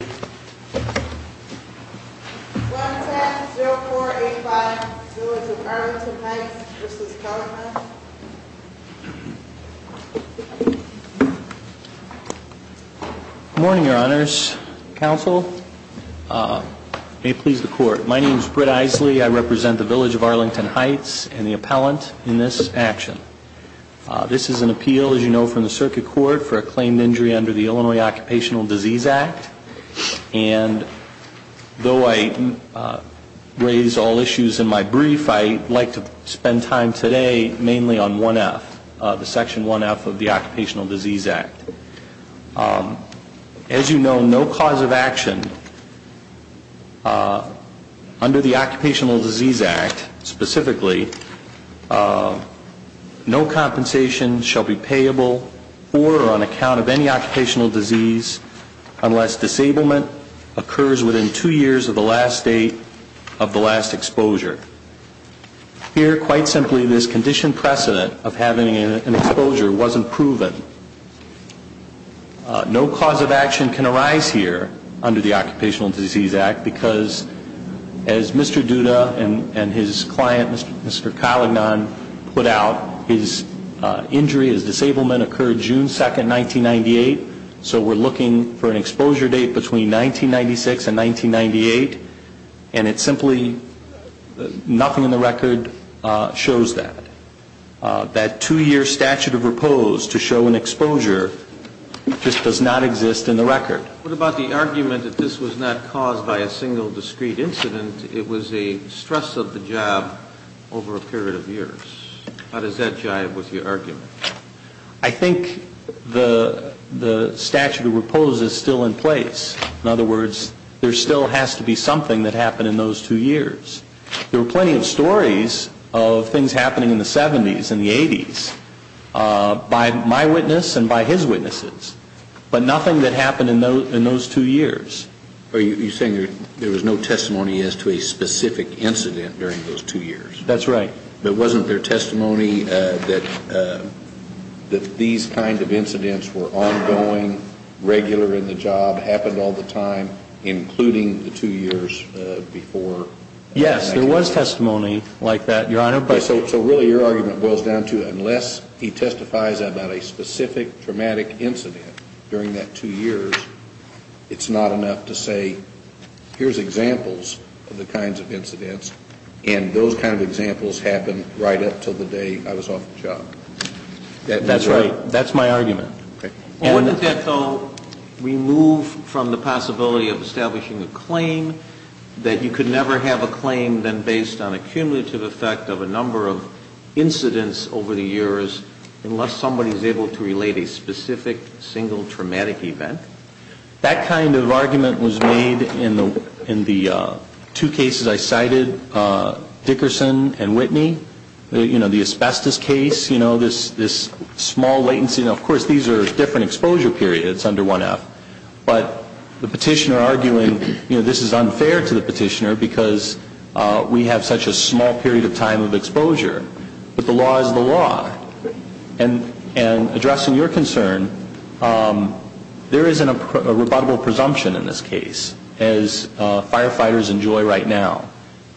Good morning, your honors. Counsel, may it please the court. My name is Britt Eisley. I represent the Village of Arlington Heights and the appellant in this action. This is an appeal, as you know from the circuit court, for a claimed injury under the Illinois Occupational Disease Act. And though I raise all issues in my brief, I'd like to spend time today mainly on 1F, the Section 1F of the Occupational Disease Act. As you know, no cause of action under the Occupational Disease Act, specifically, no compensation shall be payable for or on unless disablement occurs within two years of the last date of the last exposure. Here, quite simply, this condition precedent of having an exposure wasn't proven. No cause of action can arise here under the Occupational Disease Act because, as Mr. Duda and his client, Mr. Collignan, put out, his injury, his disablement occurred June 2, 1998. So we're looking for an exposure date between 1996 and 1998. And it simply, nothing in the record shows that. That two-year statute of repose to show an exposure just does not exist in the record. What about the argument that this was not caused by a single discrete incident? It was a stress of the job over a period of years. How does that jive with your argument? I think the statute of repose is still in place. In other words, there still has to be something that happened in those two years. There were plenty of stories of things happening in the 70s and the 80s by my witness and by his witnesses, but nothing that happened in those two years. Are you saying there was no testimony as to a specific incident during those two years? That's right. But wasn't there testimony that these kinds of incidents were ongoing, regular in the job, happened all the time, including the two years before? Yes, there was testimony like that, Your Honor, but So really your argument boils down to unless he testifies about a specific traumatic incident during that two years, it's not enough to say here's examples of the kinds of incidents and those kinds of examples happened right up until the day I was off the job. That's right. That's my argument. Okay. Wasn't that, though, removed from the possibility of establishing a claim that you could never have a claim then based on a cumulative effect of a number of incidents over the years unless somebody is able to relate a specific single traumatic event? That kind of argument was made in the two cases I cited, Dickerson and Whitney. You know, the asbestos case, you know, this small latency, and of course these are different exposure periods under 1F, but the petitioner arguing, you know, this is unfair to the petitioner because we have such a small period of time of exposure, but the law is the law. And addressing your concern, there isn't a rebuttable presumption in this case as firefighters enjoy right now.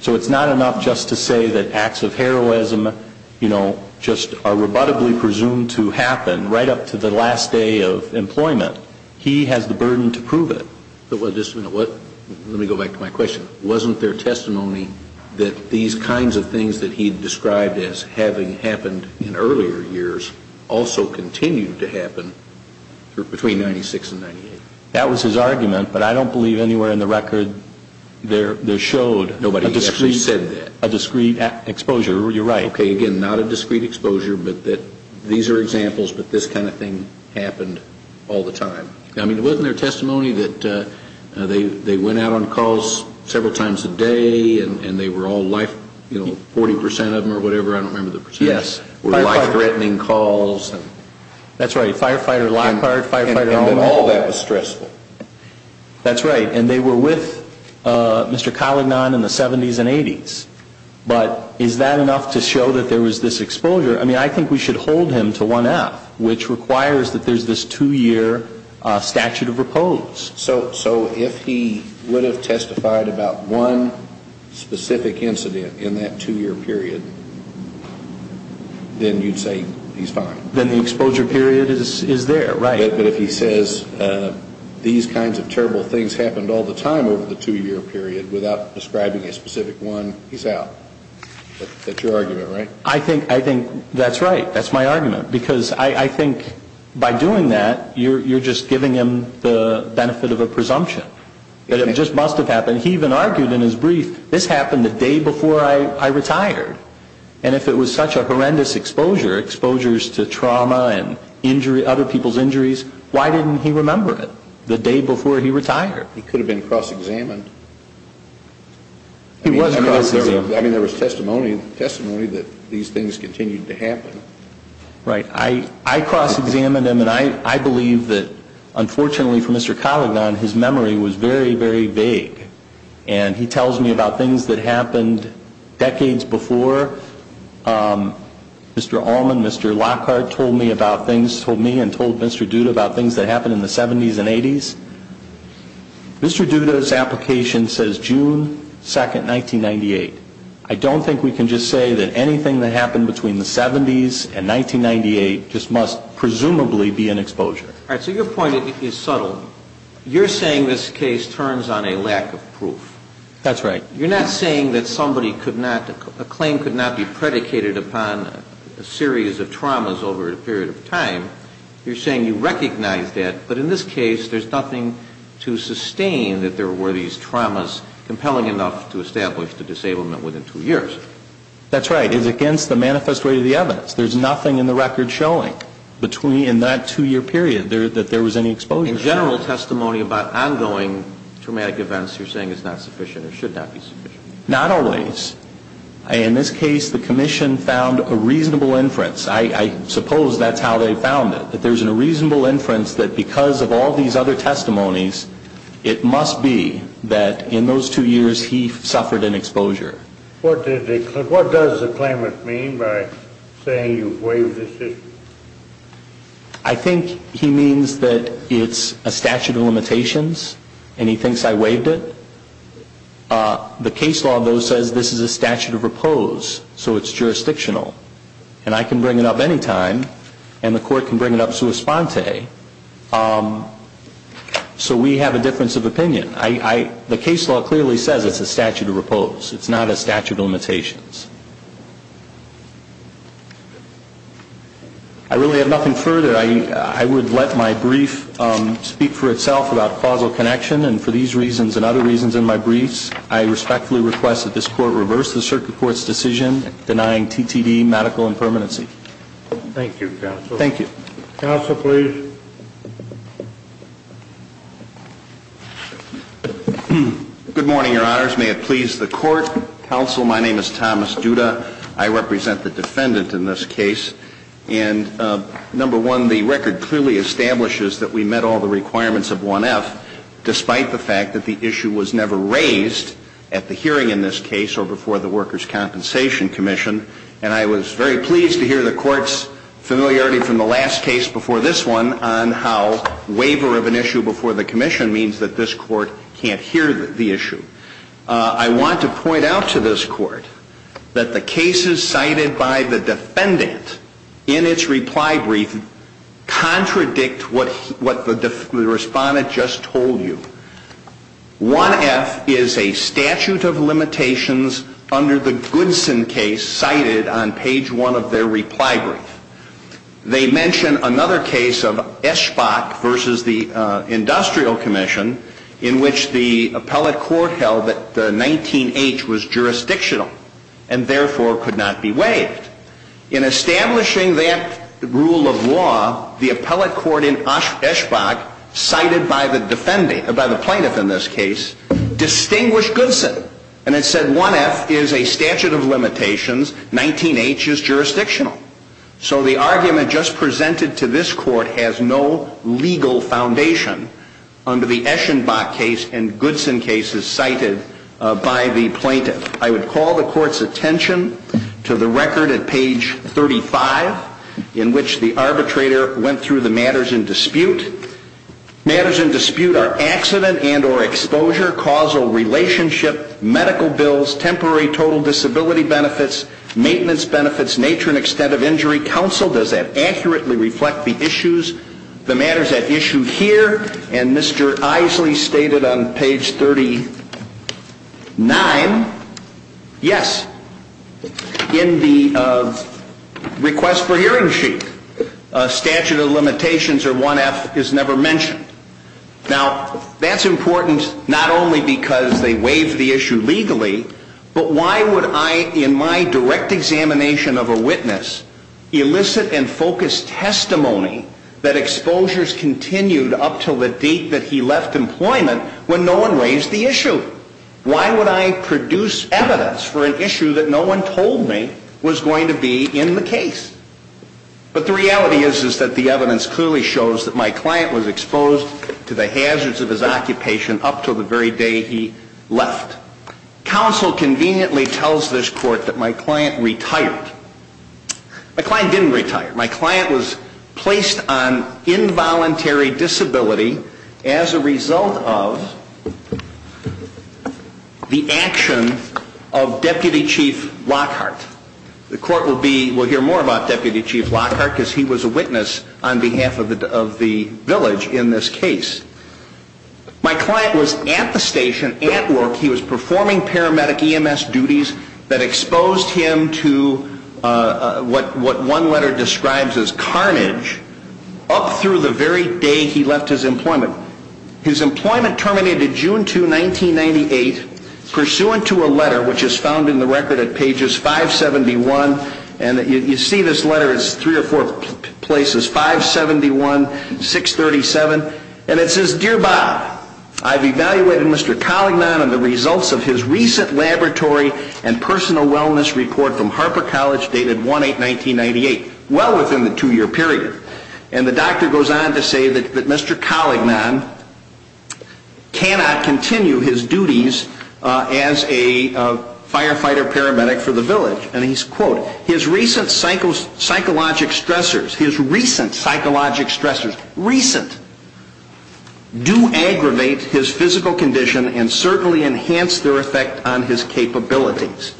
So it's not enough just to say that acts of heroism, you know, just are rebuttably presumed to happen right up to the last day of employment. He has the burden to prove it. But just a minute. Let me go back to my question. Wasn't there testimony that these kinds of as having happened in earlier years also continued to happen between 96 and 98? That was his argument, but I don't believe anywhere in the record there showed a discreet exposure. You're right. Okay. Again, not a discreet exposure, but that these are examples, but this kind of thing happened all the time. I mean, wasn't there testimony that they went out on calls several times a day and they were all, you know, 40% of them or whatever, I don't remember the percentage, were life-threatening calls? Yes. That's right. Firefighter lock card, firefighter on- And that all that was stressful. That's right. And they were with Mr. Collignan in the 70s and 80s. But is that enough to show that there was this exposure? I mean, I think we should hold him to 1F, which requires that there's this two-year statute of repose. So if he would have testified about one specific incident in that two-year period, then you'd say he's fine? Then the exposure period is there, right. But if he says these kinds of terrible things happened all the time over the two-year period without describing a specific one, he's out. That's your argument, right? I think that's right. That's my argument. Because I think by doing that, you're just giving him the benefit of a presumption that it just must have happened. He even argued in his brief, this happened the day before I retired. And if it was such a horrendous exposure, exposures to trauma and injury, other people's injuries, why didn't he remember it the day before he retired? He could have been cross-examined. He was cross-examined. I mean, there was testimony that these things continued to happen. Right. I cross-examined him, and I believe that, unfortunately for Mr. Colligan, his memory was very, very vague. And he tells me about things that happened decades before. Mr. Allman, Mr. Lockhart told me about things, told me and told Mr. Duda about things that happened in the 70s and 80s. Mr. Duda's application says June 2, 1998. I don't think we can just say that anything that happened between the 70s and 1998 just must presumably be an exposure. All right. So your point is subtle. You're saying this case turns on a lack of proof. That's right. You're not saying that somebody could not, a claim could not be predicated upon a series of traumas over a period of time. You're saying you recognize that, but in this case, there's nothing to sustain that there were these traumas compelling enough to establish the disablement within two years. That's right. It's against the manifest way of the evidence. There's nothing in the record showing between, in that two-year period, that there was any exposure. In general testimony about ongoing traumatic events, you're saying it's not sufficient or should not be sufficient. Not always. In this case, the Commission found a reasonable inference. I suppose that's how they found it, that there's a reasonable inference that because of all these other testimonies, it must be that in those two years, he suffered an exposure. What does the claimant mean by saying you waived the decision? I think he means that it's a statute of limitations, and he thinks I waived it. The case law, though, says this is a statute of repose, so it's jurisdictional. And I can bring it up any time, and the court can bring it up sua sponte. So we have a difference of opinion. The case law clearly says it's a statute of repose. It's not a statute of limitations. I really have nothing further. I would let my brief speak for itself about causal connection, and for these reasons and other reasons in my briefs, I respectfully request that this Court reverse the Circuit Court's decision denying TTD medical impermanency. Thank you, Counsel. Thank you. Counsel, please. Good morning, Your Honors. May it please the Court. Counsel, my name is Thomas Duda. I represent the defendant in this case. And number one, the record clearly establishes that we met all the requirements of 1F, despite the fact that the issue was never raised at the hearing in this case or before the Workers' Compensation Commission. And I was very pleased to hear the Court's familiarity from the last case before this one on how waiver of an issue before the Commission means that this Court can't hear the issue. I want to point out to this Court that the cases cited by the defendant in its reply brief contradict what the respondent just told you. 1F is a statute of limitations under the Goodson case cited on page one of their reply brief. They mention another case of Eschbach versus the Industrial Commission in which the appellate court held that 19H was jurisdictional and therefore could not be waived. In establishing that rule of law, the appellate court in Eschbach cited by the defendant, by the plaintiff in this case, distinguished Goodson. And it said 1F is a statute of limitations, 19H is jurisdictional. So the argument just presented to this Court has no legal foundation under the Eschbach case and Goodson cases cited by the plaintiff. I would call the Court's attention to the record at page 35 in which the arbitrator went through the matters in dispute. Matters in dispute are accident and or exposure, causal relationship, medical bills, temporary total disability benefits, maintenance benefits, nature and extent of injury, counsel. Does that accurately reflect the issues, the matters at issue here? And Mr. Isley stated on page 39, yes, in the request for hearing sheet, a statute of limitations or 1F is never mentioned. Now, that's important not only because they waived the issue legally, but why would I, in my direct examination of a witness, elicit and focus testimony that exposures continued up to the date that he left employment when no one raised the issue? Why would I produce evidence for an issue that no one told me was going to be in the case? But the reality is, is that the evidence clearly shows that my client was exposed to the hazards of his occupation up to the very day he left. Counsel conveniently tells this Court that my client retired. My client didn't retire. My client was placed on involuntary disability as a result of the action of Deputy Chief Lockhart. The Court will hear more about Deputy Chief Lockhart because he was a witness on behalf of the village in this case. My client was at the station, at work. He was performing paramedic EMS duties that exposed him to what one letter describes as carnage up through the very day he left his employment. His employment terminated June 2, 1998, pursuant to a letter which is found in the record at pages 571. And you see this letter, it's three or four places, 571, 637. And it says, Dear Bob, I've evaluated Mr. Collignan on the results of his recent laboratory and personal wellness report from Harper College dated 1-8-1998, well within the two-year period. And the doctor goes on to say that Mr. Collignan cannot continue his duties as a firefighter paramedic for the village. And he's, quote, his recent psychological stressors, his recent psychological stressors, recent, do aggravate his physical condition and certainly enhance their effect on his capabilities.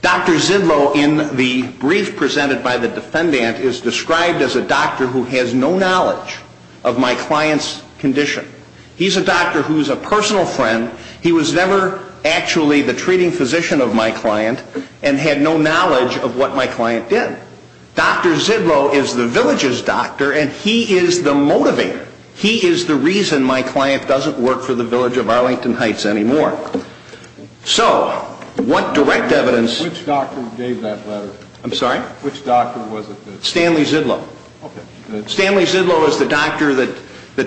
Dr. Zidlow, in the brief presented by the defendant, is described as a doctor who has no knowledge of my client's condition. He's a doctor who's a personal friend. He was never actually the treating physician of my client and had no knowledge of what my client did. Dr. Zidlow is the village's doctor and he is the motivator. He is the reason my client doesn't work for the village of Arlington Heights anymore. So, what direct evidence- Which doctor gave that letter? I'm sorry? Which doctor was it? Stanley Zidlow. Stanley Zidlow is the doctor that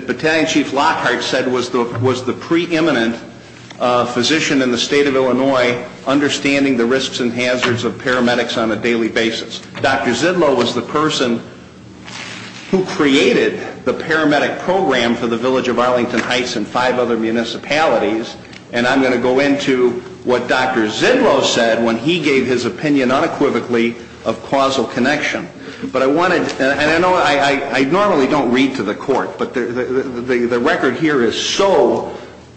Battalion Chief Lockhart said was the preeminent physician in the state of Illinois understanding the risks and hazards of paramedics on a daily basis. Dr. Zidlow was the person who created the paramedic program for the village of Arlington Heights and five other municipalities. And I'm going to go into what Dr. Zidlow said when he gave his opinion unequivocally of causal connection. But I wanted, and I normally don't read to the court, but the record here is so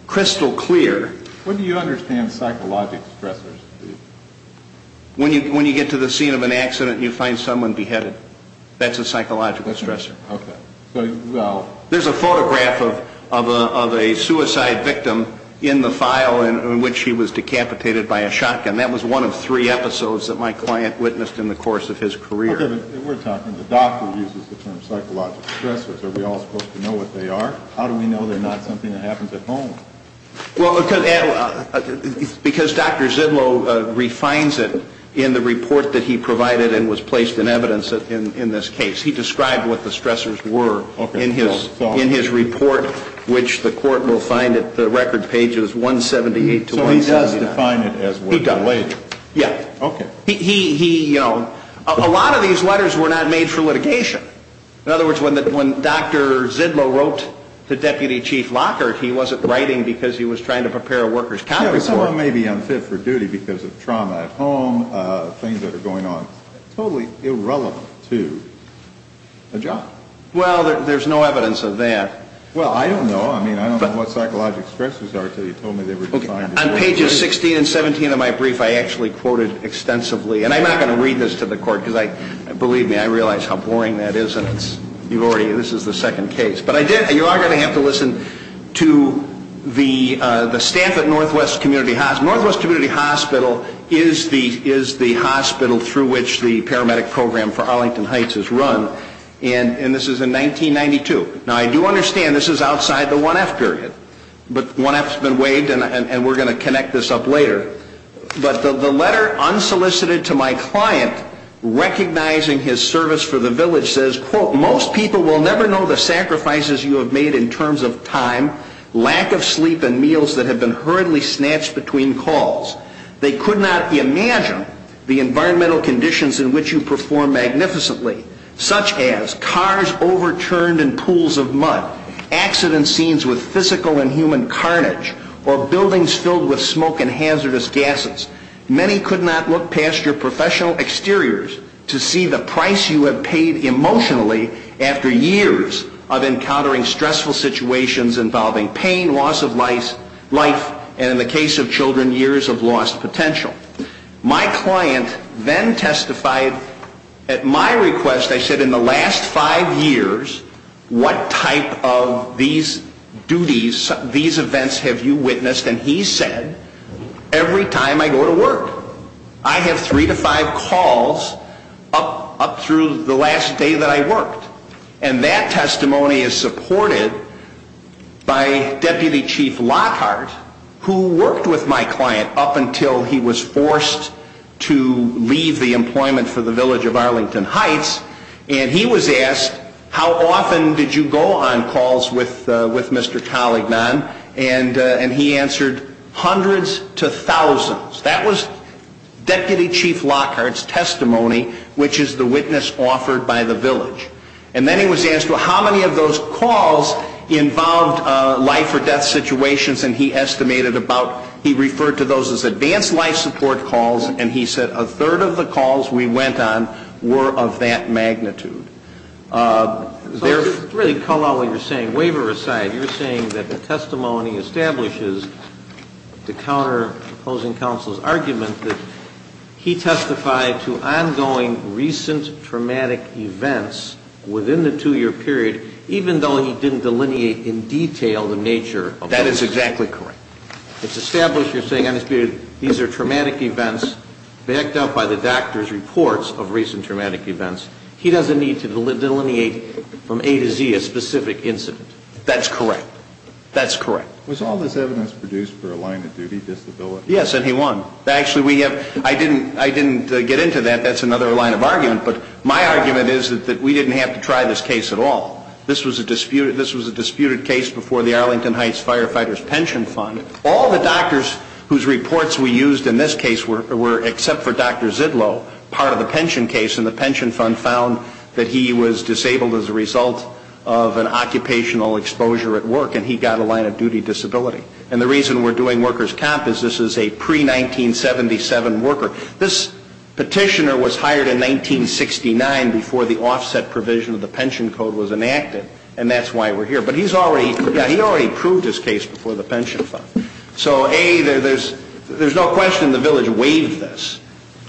crystal clear- What do you understand as psychological stressors? When you get to the scene of an accident and you find someone beheaded, that's a psychological stressor. Okay. So, well- There's a photograph of a suicide victim in the file in which he was decapitated by a shotgun. That was one of three episodes that my client witnessed in the course of his career. Okay, but we're talking, the doctor uses the term psychological stressors. Are we all supposed to know what they are? How do we know they're not something that happens at home? Because Dr. Zidlow refines it in the report that he provided and was placed in evidence in this case. He described what the stressors were in his report, which the court will find at the record pages 178 to 179. So he does define it as what he belated? He does. Yeah. Okay. A lot of these letters were not made for litigation. In other words, when Dr. Zidlow wrote to Deputy Chief Lockhart, he wasn't writing because he was trying to prepare a workers' conference order. Someone may be unfit for duty because of trauma at home, things that are going on totally irrelevant to the job. Well, there's no evidence of that. Well, I don't know. I mean, I don't know what psychological stressors are until you told me they were defined as what they are. Okay. On pages 16 and 17 of my brief, I actually quoted extensively, and I'm not going to read this to the court because I, believe me, I realize how boring that is and it's, you've already, this is the second case. But I did, you are going to have to listen to the staff at Northwest Community Hospital. Northwest Community Hospital is the hospital through which the paramedic program for Arlington Heights is run, and this is in 1992. Now, I do understand this is outside the 1F period, but 1F has been waived and we're going to connect this up later. But the letter unsolicited to my client recognizing his service for the village says, quote, most people will never know the sacrifices you have made in terms of time, lack of sleep, and meals that have been hurriedly snatched between calls. They could not imagine the environmental conditions in which you perform magnificently, such as cars overturned in pools of mud, accident scenes with physical and human carnage, or buildings filled with smoke and hazardous gases. Many could not look past your professional exteriors to see the price you have paid emotionally after years of encountering stressful situations involving pain, loss of life, and in the case of my client, then testified at my request, I said, in the last five years, what type of these duties, these events have you witnessed? And he said, every time I go to work. I have three to five calls up through the last day that I worked. And that testimony is supported by Deputy Chief Lockhart, who worked with my client up until he was forced to leave the employment for the village of Arlington Heights. And he was asked, how often did you go on calls with Mr. Collignan? And he answered, hundreds to thousands. That was Deputy Chief Lockhart's testimony, which is the witness offered by the village. And then he was asked, how many of those calls involved life or death situations? And he estimated about, he referred to those as advanced life support calls, and he said, a third of the calls we went on were of that magnitude. So to really call out what you're saying, waiver aside, you're saying that the testimony establishes, to counter opposing counsel's argument, that he testified to ongoing recent traumatic events within the two-year period, even though he didn't delineate in detail the nature of those. That is exactly correct. It's established, you're saying, these are traumatic events backed up by the doctor's reports of recent traumatic events. He doesn't need to delineate from A to Z a specific incident. That's correct. That's correct. Was all this evidence produced for a line of duty, disability? Yes, and he won. Actually, I didn't get into that. That's another line of argument. But my argument is that we didn't have to try this case at all. This was a disputed case before the Arlington Heights Firefighters Pension Fund. All the doctors whose reports we used in this case were, except for Dr. Zidlow, part of the pension case in the pension fund found that he was disabled as a result of an occupational exposure at work, and he was a pre-1977 worker. This petitioner was hired in 1969 before the offset provision of the pension code was enacted, and that's why we're here. But he's already, yeah, he already proved his case before the pension fund. So A, there's no question the village waived this.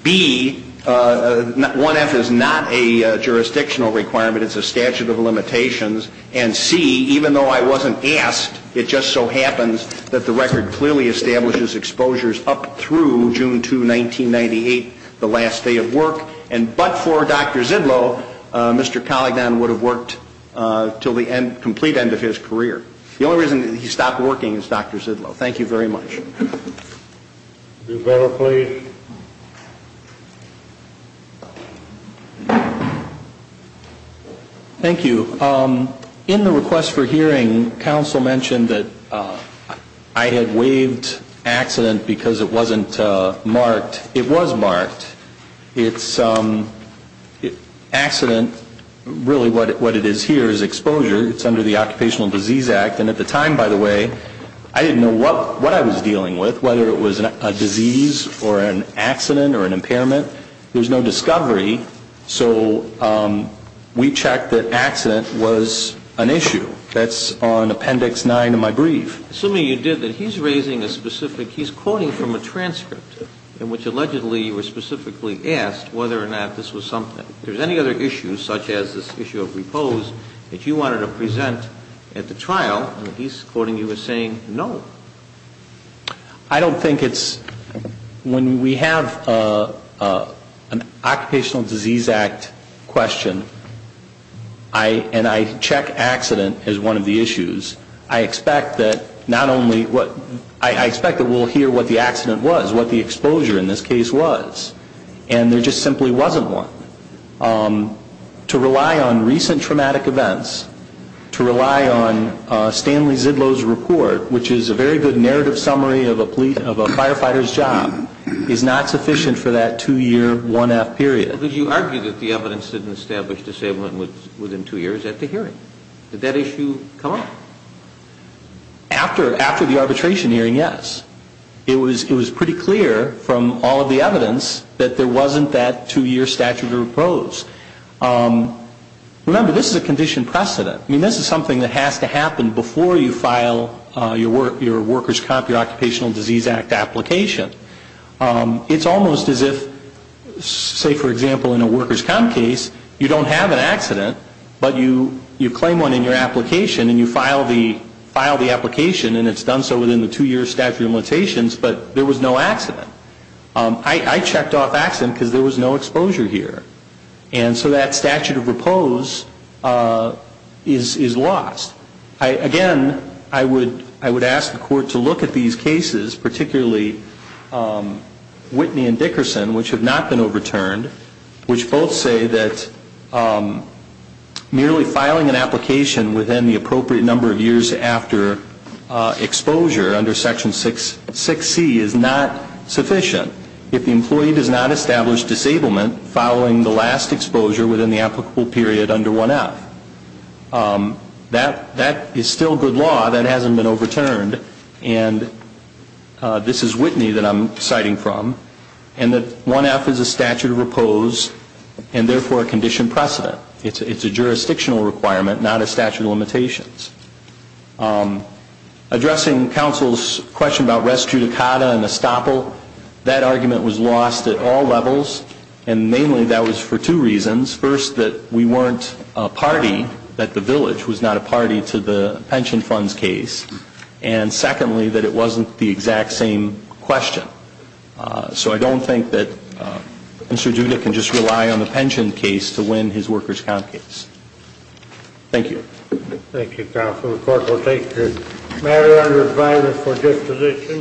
B, 1F is not a jurisdictional requirement. It's a statute of limitations. And C, even though I wasn't asked, it just so happens that the record clearly establishes exposures up through June 2, 1998, the last day of work. And but for Dr. Zidlow, Mr. Collignan would have worked until the end, complete end of his career. The only reason he stopped working is Dr. Zidlow. Thank you very much. Do you have a plea? Thank you. In the request for hearing, counsel mentioned that I had waived accident because it wasn't marked. It was marked. It's accident, really what it is here is exposure. It's under the Occupational Disease Act. And at the time, by the way, I didn't know what I was dealing with, whether it was a disease or an accident or an impairment. There's no discovery. So we checked that accident was an issue. That's on Appendix 9 of my brief. Assuming you did that, he's raising a specific, he's quoting from a transcript in which allegedly you were specifically asked whether or not this was something. If there's any other issues such as this issue of repose that you wanted to present at the trial, and he's quoting you as saying no. I don't think it's, when we have an Occupational Disease Act question, and I check accident as one of the issues, I expect that not only, I expect that we'll hear what the accident was, what the exposure in this case was. And there just simply wasn't one. To rely on recent report, which is a very good narrative summary of a firefighter's job, is not sufficient for that two-year 1F period. But you argued that the evidence didn't establish disablement within two years at the hearing. Did that issue come up? After the arbitration hearing, yes. It was pretty clear from all of the evidence that there wasn't that two-year statute of repose. Remember, this is a condition precedent. I you file your workers' comp, your Occupational Disease Act application. It's almost as if, say for example, in a workers' comp case, you don't have an accident, but you claim one in your application, and you file the application, and it's done so within the two-year statute of limitations, but there was no accident. I checked off accident because there was no exposure here. And so that statute of repose is lost. Again, I would ask the Court to look at these cases, particularly Whitney and Dickerson, which have not been overturned, which both say that merely filing an application within the appropriate number of years after exposure under Section 6C is not sufficient. If the employee does not establish disablement following the last exposure within the applicable period under 1F, that is still good law. That hasn't been overturned. And this is Whitney that I'm citing from, and that 1F is a statute of repose and therefore a condition precedent. It's a jurisdictional requirement, not a statute of limitations. Addressing counsel's question about res judicata and estoppel, that argument was lost at all weren't a party that the village was not a party to the pension funds case, and secondly, that it wasn't the exact same question. So I don't think that Mr. Judah can just rely on the pension case to win his workers' comp case. Thank you. Thank you, Counsel. The Court will take the matter under advisement for disposition.